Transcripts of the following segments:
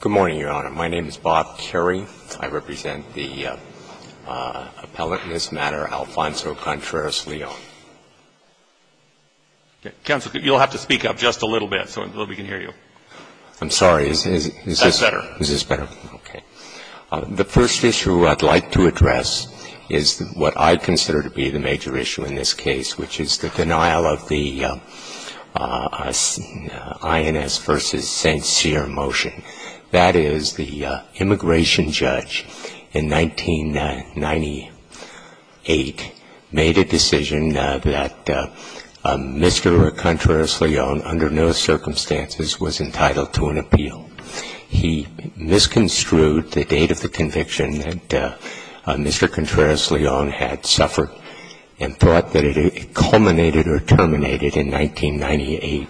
Good morning, Your Honor. My name is Bob Carey. I represent the appellant in this matter, Alfonso Contreras-Leon. Counsel, you'll have to speak up just a little bit so that we can hear you. I'm sorry. Is this better? Is this better? Okay. The first issue I'd like to address is what I consider to be the major issue in this case, which is the denial of the INS v. St. Cyr motion. That is, the immigration judge in 1998 made a decision that Mr. Contreras-Leon, under no circumstances, was entitled to an appeal. He misconstrued the date of the conviction that Mr. Contreras-Leon had suffered and thought that it culminated or terminated in 1998.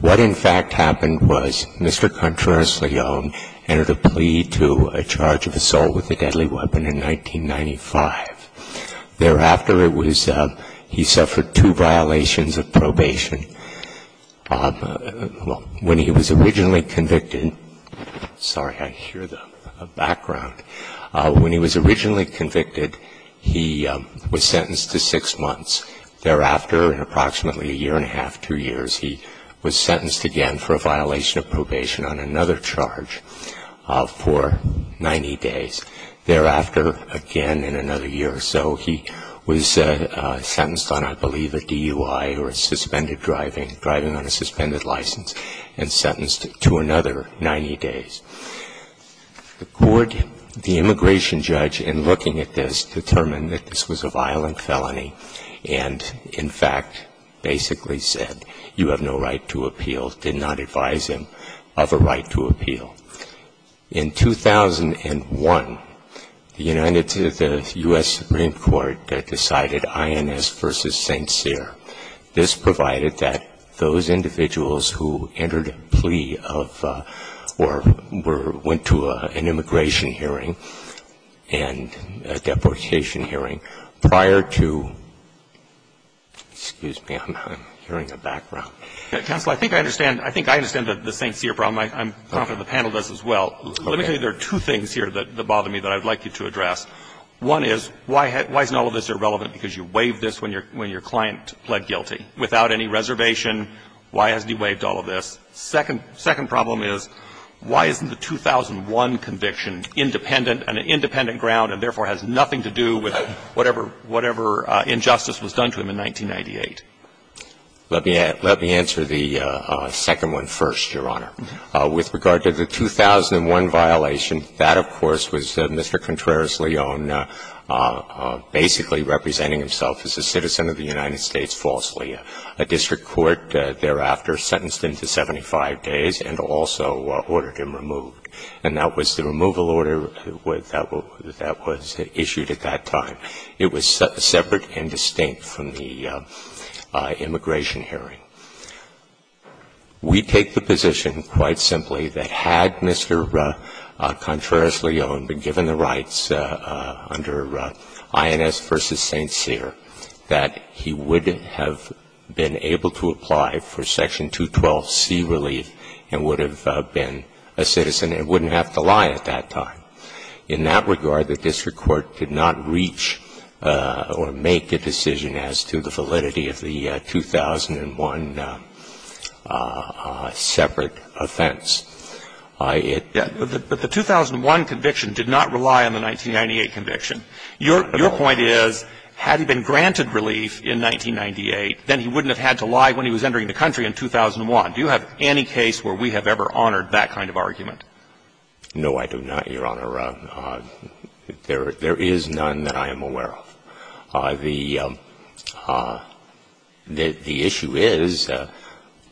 What, in fact, happened was Mr. Contreras-Leon entered a plea to a charge of assault with a deadly weapon in 1995. Thereafter, he suffered two violations of probation. When he was originally convicted, he was sentenced to six months. Thereafter, in approximately a year and a half, two years, he was sentenced again for a violation of probation on another charge for 90 days. Thereafter, again in another year or so, he was sentenced on, I believe, a DUI or a suspended driving, driving on a suspended license, and sentenced to another 90 days. The immigration judge, in looking at this, determined that this was a violent felony and, in fact, basically said you have no right to appeal, did not advise him of a right to appeal. In 2001, the United States Supreme Court decided INS v. St. Cyr. This provided that those individuals who entered a plea of or went to an immigration hearing and a deportation hearing prior to, excuse me, I'm hearing a background. I think I understand the St. Cyr problem. I'm confident the panel does as well. Let me tell you there are two things here that bother me that I would like you to address. One is, why isn't all of this irrelevant, because you waived this when your client pled guilty without any reservation? Why hasn't he waived all of this? Second problem is, why isn't the 2001 conviction independent, an independent ground, and therefore has nothing to do with whatever injustice was done to him in 1998? Let me answer the second one first, Your Honor. With regard to the 2001 violation, that, of course, was Mr. Contreras-Leone basically representing himself as a citizen of the United States falsely. A district court thereafter sentenced him to 75 days and also ordered him removed. And that was the removal order that was issued at that time. It was separate and distinct from the immigration hearing. We take the position, quite simply, that had Mr. Contreras-Leone been given the rights under INS versus St. Cyr, that he would have been able to apply for Section 212C relief and would have been a citizen and wouldn't have to lie at that time. In that regard, the district court could not reach or make a decision as to the validity of the 2001 separate offense. It didn't. But the 2001 conviction did not rely on the 1998 conviction. Your point is, had he been granted relief in 1998, then he wouldn't have had to lie when he was entering the country in 2001. Do you have any case where we have ever honored that kind of argument? No, I do not, Your Honor. There is none that I am aware of. The issue is,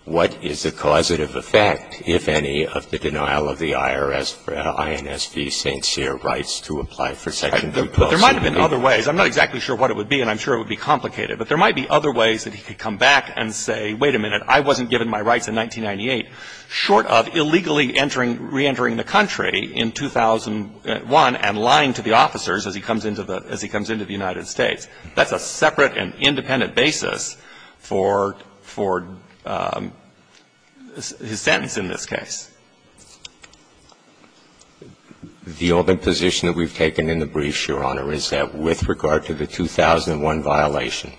what is the causative effect, if any, of the denial of the IRS for INS v. St. Cyr rights to apply for Section 212C relief? But there might have been other ways. I'm not exactly sure what it would be, and I'm sure it would be complicated. But there might be other ways that he could come back and say, wait a minute, I wasn't given my rights in 1998, short of illegally entering, reentering the country in 2001 and lying to the officers as he comes into the United States. That's a separate and independent basis for his sentence in this case. The open position that we've taken in the briefs, Your Honor, is that with regard to the 2001 violation,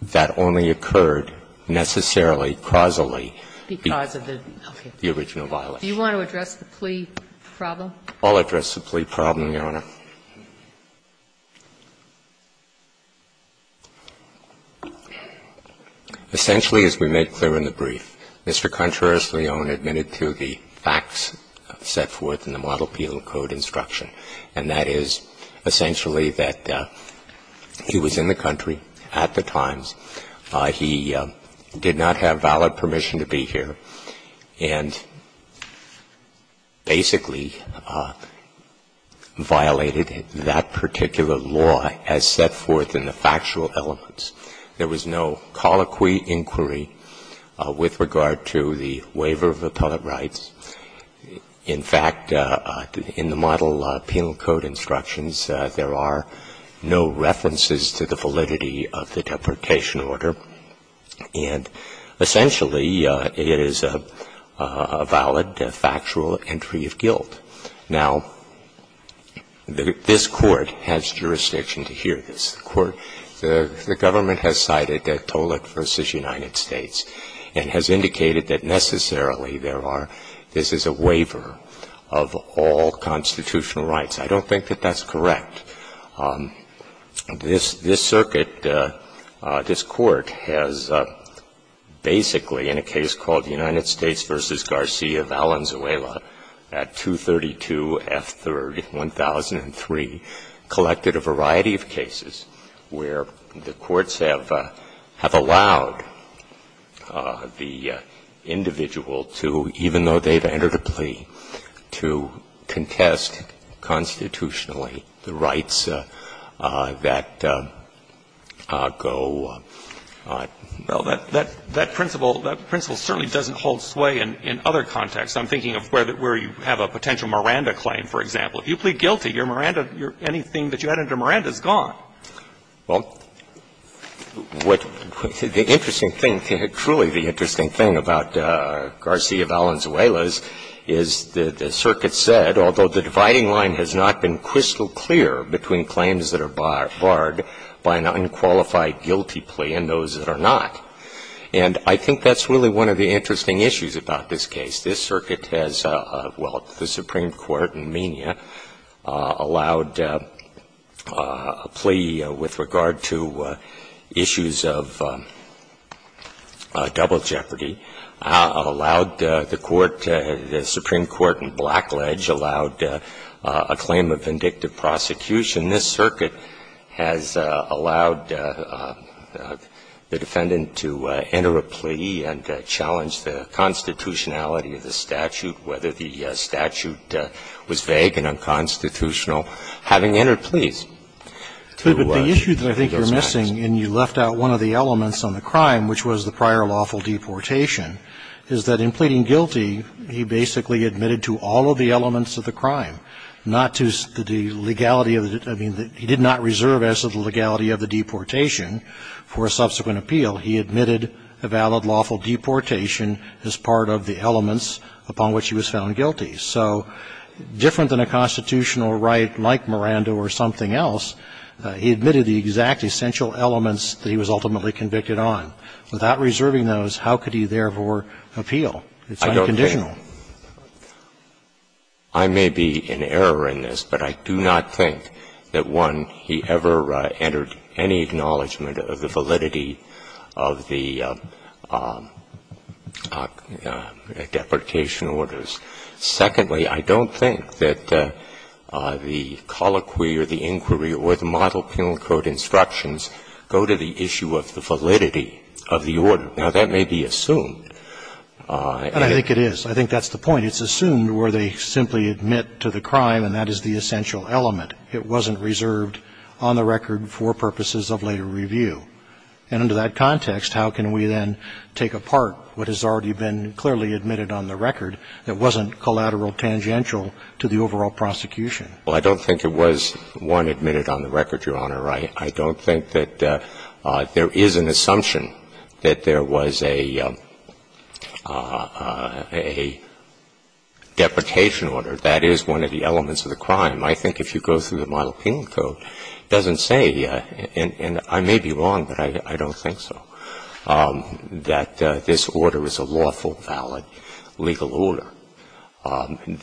that only occurred necessarily, causally, because of the original violation. Do you want to address the plea problem? I'll address the plea problem, Your Honor. Essentially, as we made clear in the brief, Mr. Contreras-Leone admitted to the facts set forth in the Model Peel Code instruction, and that is essentially that he was in the country at the times, he did not have valid permission to be here, and basically violated that particular law as set forth in the factual elements. There was no colloquy inquiry with regard to the waiver of appellate rights. In fact, in the Model Peel Code instructions, there are no references to the validity of the deportation order. And essentially, it is a valid factual entry of guilt. Now, this Court has jurisdiction to hear this. The Government has cited Tollett v. United States and has indicated that necessarily there are. This is a waiver of all constitutional rights. I don't think that that's correct. This circuit, this Court has basically, in a case called United States v. Garcia Valenzuela at 232 F. 3rd, 1003, collected a variety of cases where the courts have allowed the individual to, even though they've entered a plea, to contest constitutionally the rights that go. Well, that principle certainly doesn't hold sway in other contexts. I'm thinking of where you have a potential Miranda claim, for example. If you plead guilty, your Miranda, anything that you had under Miranda is gone. Well, what the interesting thing, truly the interesting thing about Garcia Valenzuela's is the circuit said, although the dividing line has not been crystal clear between claims that are barred by an unqualified guilty plea and those that are not. And I think that's really one of the interesting issues about this case. This circuit has, well, the Supreme Court in Menia allowed a plea with regard to issues of double jeopardy, allowed the court, the Supreme Court in Blackledge allowed a claim of vindictive prosecution. This circuit has allowed the defendant to enter a plea and challenge the constitutionality of the statute, whether the statute was vague and unconstitutional, having entered pleas to those clients. But the issue that I think you're missing, and you left out one of the elements on the crime, which was the prior lawful deportation, is that in pleading guilty, he basically admitted to all of the elements of the crime, not to the legality of the, I mean, he did not reserve access to the legality of the deportation for a subsequent appeal. He admitted a valid lawful deportation as part of the elements upon which he was found guilty. So different than a constitutional right like Miranda or something else, he admitted the exact essential elements that he was ultimately convicted on. Without reserving those, how could he therefore appeal? It's unconditional. I may be in error in this, but I do not think that when he ever entered any acknowledgement of the validity of the deportation orders. Secondly, I don't think that the colloquy or the inquiry or the model penal code instructions go to the issue of the validity of the order. Now, that may be assumed. And I think it is. I think that's the point. It's assumed where they simply admit to the crime, and that is the essential element. But it wasn't reserved on the record for purposes of later review. And under that context, how can we then take apart what has already been clearly admitted on the record that wasn't collateral tangential to the overall prosecution? Well, I don't think it was, one, admitted on the record, Your Honor. I don't think that there is an assumption that there was a deportation order. That is one of the elements of the crime. I think if you go through the model penal code, it doesn't say, and I may be wrong, but I don't think so, that this order is a lawful, valid legal order.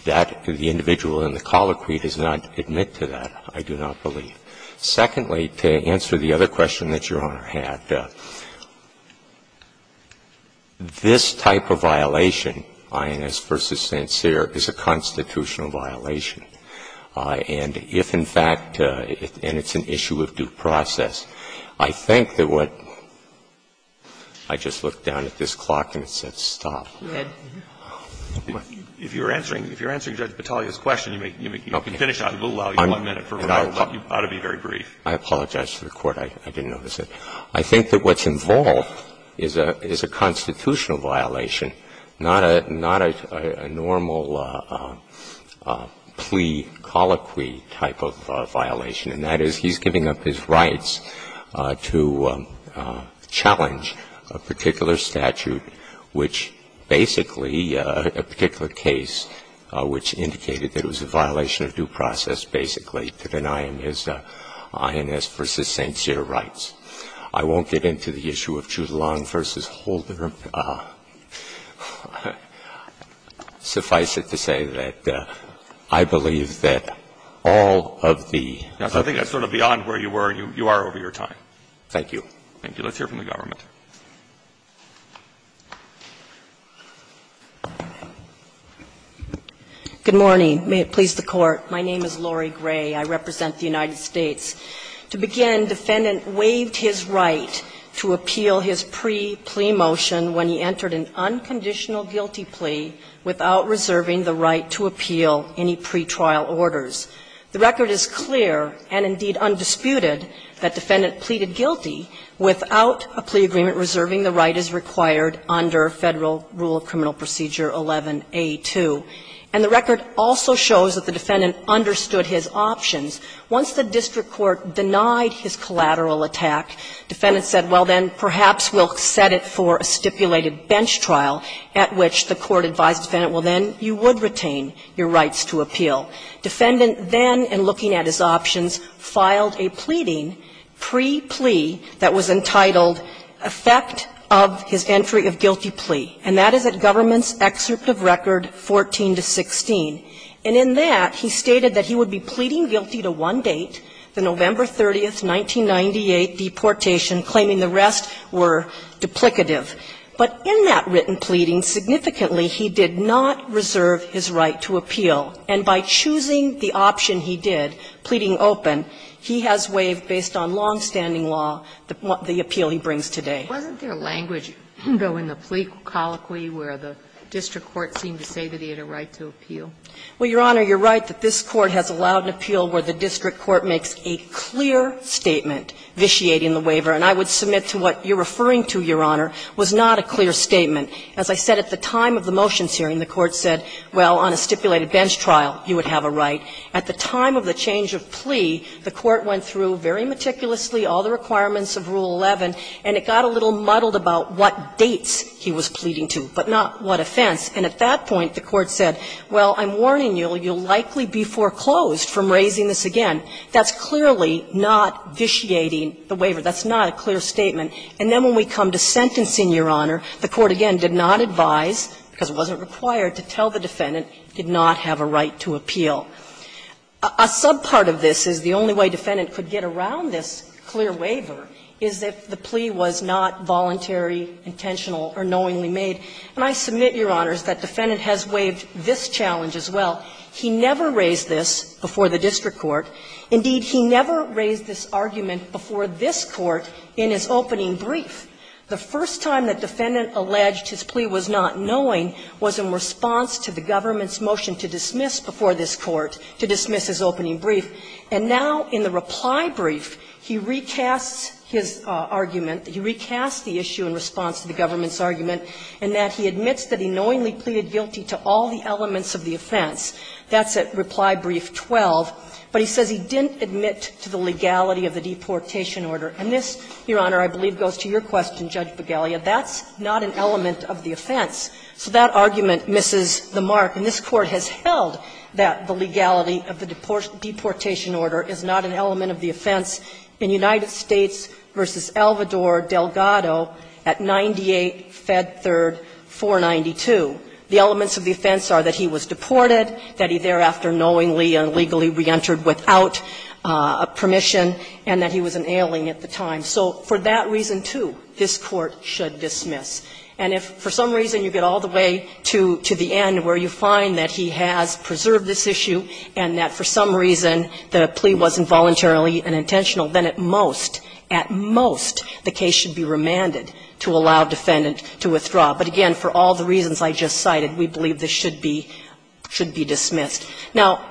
That the individual in the colloquy does not admit to that, I do not believe. Secondly, to answer the other question that Your Honor had, this type of violation, INS v. Sancerre, is a constitutional violation. And if, in fact, and it's an issue of due process, I think that what – I just looked down at this clock and it said stop. If you're answering Judge Battaglia's question, you may finish up. We'll allow you one minute. You ought to be very brief. I apologize to the Court. I didn't notice it. I think that what's involved is a constitutional violation, not a normal plea colloquy type of violation, and that is he's giving up his rights to challenge a particular statute which basically, a particular case which indicated that it was a violation of due process, basically, to deny him his INS v. Sancerre rights. I won't get into the issue of Chute-Long v. Holder. Suffice it to say that I believe that all of the – I think that's sort of beyond where you were. You are over your time. Thank you. Let's hear from the government. Good morning. May it please the Court. My name is Lori Gray. I represent the United States. To begin, defendant waived his right to appeal his pre-plea motion when he entered an unconditional guilty plea without reserving the right to appeal any pretrial orders. The record is clear, and indeed undisputed, that defendant pleaded guilty without a plea agreement reserving the right as required under Federal Rule of Criminal Procedure 11a2. And the record also shows that the defendant understood his options. Once the district court denied his collateral attack, defendant said, well, then perhaps we'll set it for a stipulated bench trial at which the court advised defendant, well, then you would retain your rights to appeal. Defendant then, in looking at his options, filed a pleading pre-plea that was entitled effect of his entry of guilty plea. And that is at government's excerpt of record 14-16. And in that, he stated that he would be pleading guilty to one date, the November 30, 1998 deportation, claiming the rest were duplicative. But in that written pleading, significantly, he did not reserve his right to appeal. And by choosing the option he did, pleading open, he has waived, based on longstanding law, the appeal he brings today. Sotomayor, wasn't there language, though, in the plea colloquy where the district court seemed to say that he had a right to appeal? Well, Your Honor, you're right that this Court has allowed an appeal where the district court makes a clear statement vitiating the waiver. And I would submit to what you're referring to, Your Honor, was not a clear statement. As I said, at the time of the motions hearing, the Court said, well, on a stipulated bench trial, you would have a right. At the time of the change of plea, the Court went through very meticulously all the requirements of Rule 11, and it got a little muddled about what dates he was pleading to, but not what offense. And at that point, the Court said, well, I'm warning you, you'll likely be foreclosed from raising this again. That's clearly not vitiating the waiver. That's not a clear statement. And then when we come to sentencing, Your Honor, the Court again did not advise, because it wasn't required, to tell the defendant, did not have a right to appeal. A subpart of this is the only way defendant could get around this clear waiver is if the plea was not voluntary, intentional, or knowingly made. And I submit, Your Honors, that defendant has waived this challenge as well. He never raised this before the district court. Indeed, he never raised this argument before this Court in his opening brief. The first time that defendant alleged his plea was not knowing was in response to the government's motion to dismiss before this Court, to dismiss his opening brief, and now in the reply brief, he recasts his argument. He recasts the issue in response to the government's argument in that he admits that he knowingly pleaded guilty to all the elements of the offense. That's at reply brief 12. But he says he didn't admit to the legality of the deportation order. And this, Your Honor, I believe goes to your question, Judge Begalia. That's not an element of the offense. So that argument misses the mark. And this Court has held that the legality of the deportation order is not an element of the offense in United States v. Alvador Delgado at 98 Fed Third 492. The elements of the offense are that he was deported, that he thereafter knowingly and legally reentered without permission, and that he was an alien at the time. So for that reason, too, this Court should dismiss. And if for some reason you get all the way to the end where you find that he has preserved this issue and that for some reason the plea wasn't voluntarily and intentional, then at most, at most, the case should be remanded to allow defendant to withdraw. But again, for all the reasons I just cited, we believe this should be dismissed. Now,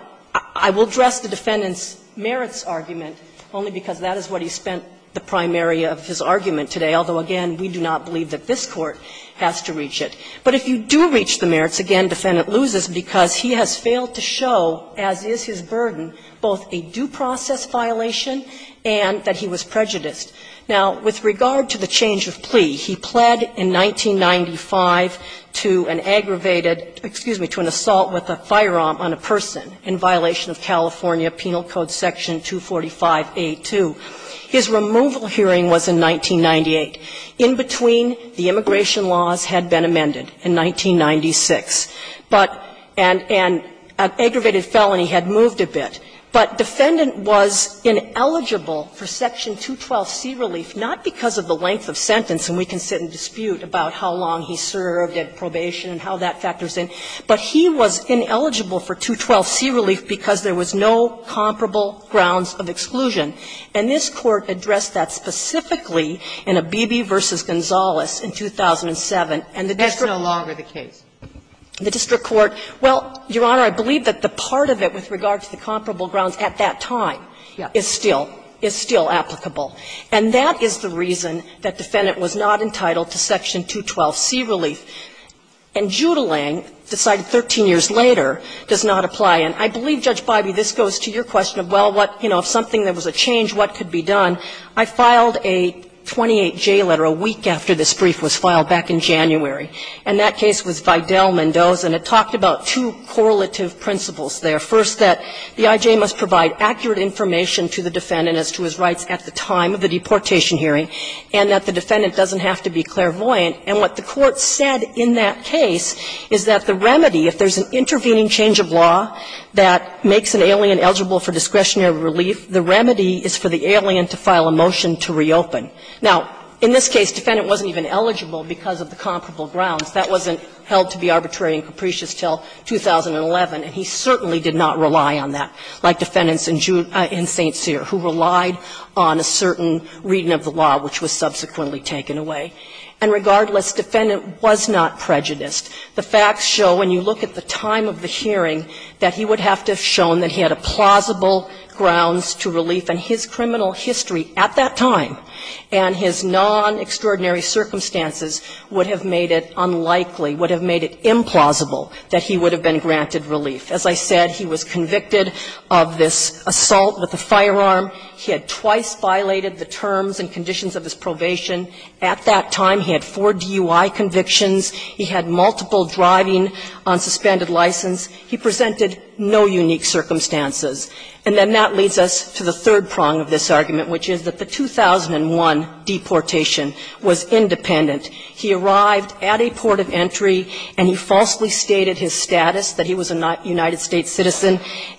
I will address the defendant's merits argument only because that is what he spent the primary of his argument today, although, again, we do not believe that this Court has to reach it. But if you do reach the merits, again, defendant loses because he has failed to show, as is his burden, both a due process violation and that he was prejudiced. Now, with regard to the change of plea, he pled in 1995 to an aggravated ‑‑ excuse me, to an assault with a firearm on a person in violation of California Penal Code Section 245A2. His removal hearing was in 1998. In between, the immigration laws had been amended in 1996. But ‑‑ and an aggravated felony had moved a bit. But defendant was ineligible for Section 212C relief, not because of the length of sentence, and we can sit and dispute about how long he served at probation and how that factors in, but he was ineligible for 212C relief because there was no comparable grounds of exclusion. And this Court addressed that specifically in Abebe v. Gonzales in 2007. And the district ‑‑ Sotomayor, that's no longer the case. ‑‑ the district court. Well, Your Honor, I believe that the part of it with regard to the comparable grounds at that time is still applicable. And that is the reason that defendant was not entitled to Section 212C relief. And Judelang, decided 13 years later, does not apply. And I believe, Judge Biby, this goes to your question of, well, what, you know, if there was something that was a change, what could be done? I filed a 28J letter a week after this brief was filed back in January. And that case was Vidal-Mendoza, and it talked about two correlative principles there. First, that the I.J. must provide accurate information to the defendant as to his rights at the time of the deportation hearing, and that the defendant doesn't have to be clairvoyant. And what the Court said in that case is that the remedy, if there's an intervening change of law that makes an alien eligible for discretionary relief, the remedy is for the alien to file a motion to reopen. Now, in this case, defendant wasn't even eligible because of the comparable grounds. That wasn't held to be arbitrary and capricious until 2011, and he certainly did not rely on that, like defendants in St. Cyr, who relied on a certain reading of the law, which was subsequently taken away. And regardless, defendant was not prejudiced. The facts show, when you look at the time of the hearing, that he would have to have shown that he had plausible grounds to relief. And his criminal history at that time and his non-extraordinary circumstances would have made it unlikely, would have made it implausible that he would have been granted relief. As I said, he was convicted of this assault with a firearm. He had twice violated the terms and conditions of his probation. At that time, he had four DUI convictions. He had multiple driving on suspended license. He presented no unique circumstances. And then that leads us to the third prong of this argument, which is that the 2001 deportation was independent. He arrived at a port of entry and he falsely stated his status, that he was a United States citizen,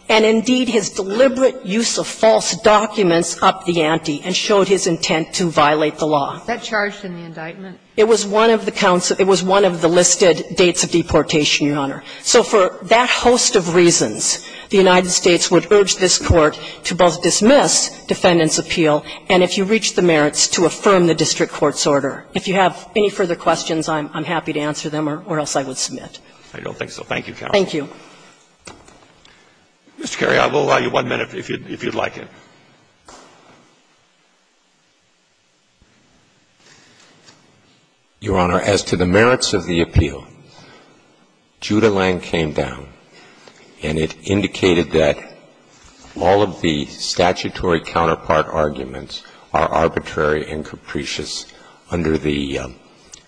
and indeed, his deliberate use of false documents upped the ante and showed his intent to violate the law. Sotomayor, That charged him with indictment. It was one of the counsel – it was one of the listed dates of deportation, Your Honor. So for that host of reasons, the United States would urge this Court to both dismiss defendant's appeal and if you reach the merits, to affirm the district court's order. If you have any further questions, I'm happy to answer them or else I would submit. I don't think so. Thank you, counsel. Thank you. Mr. Kerry, I will allow you one minute if you'd like it. Your Honor, as to the merits of the appeal, Judah-Lang came down and it indicated that all of the statutory counterpart arguments are arbitrary and capricious under the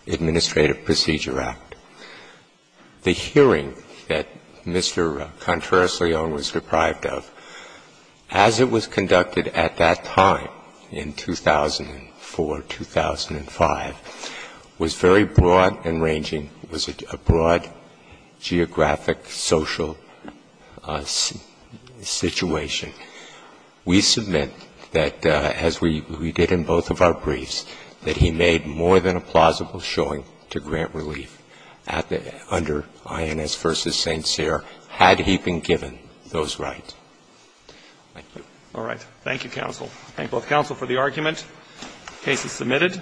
Administrative Procedure Act. The hearing that Mr. Contreras-Leon was deprived of, as it was conducted, was a hearing that was conducted at that time, in 2004, 2005, was very broad and ranging, was a broad geographic social situation. We submit that, as we did in both of our briefs, that he made more than a plausible showing to grant relief under INS v. St. Cyr had he been given those rights. Thank you. All right. Thank you, counsel. I thank both counsel for the argument. The case is submitted.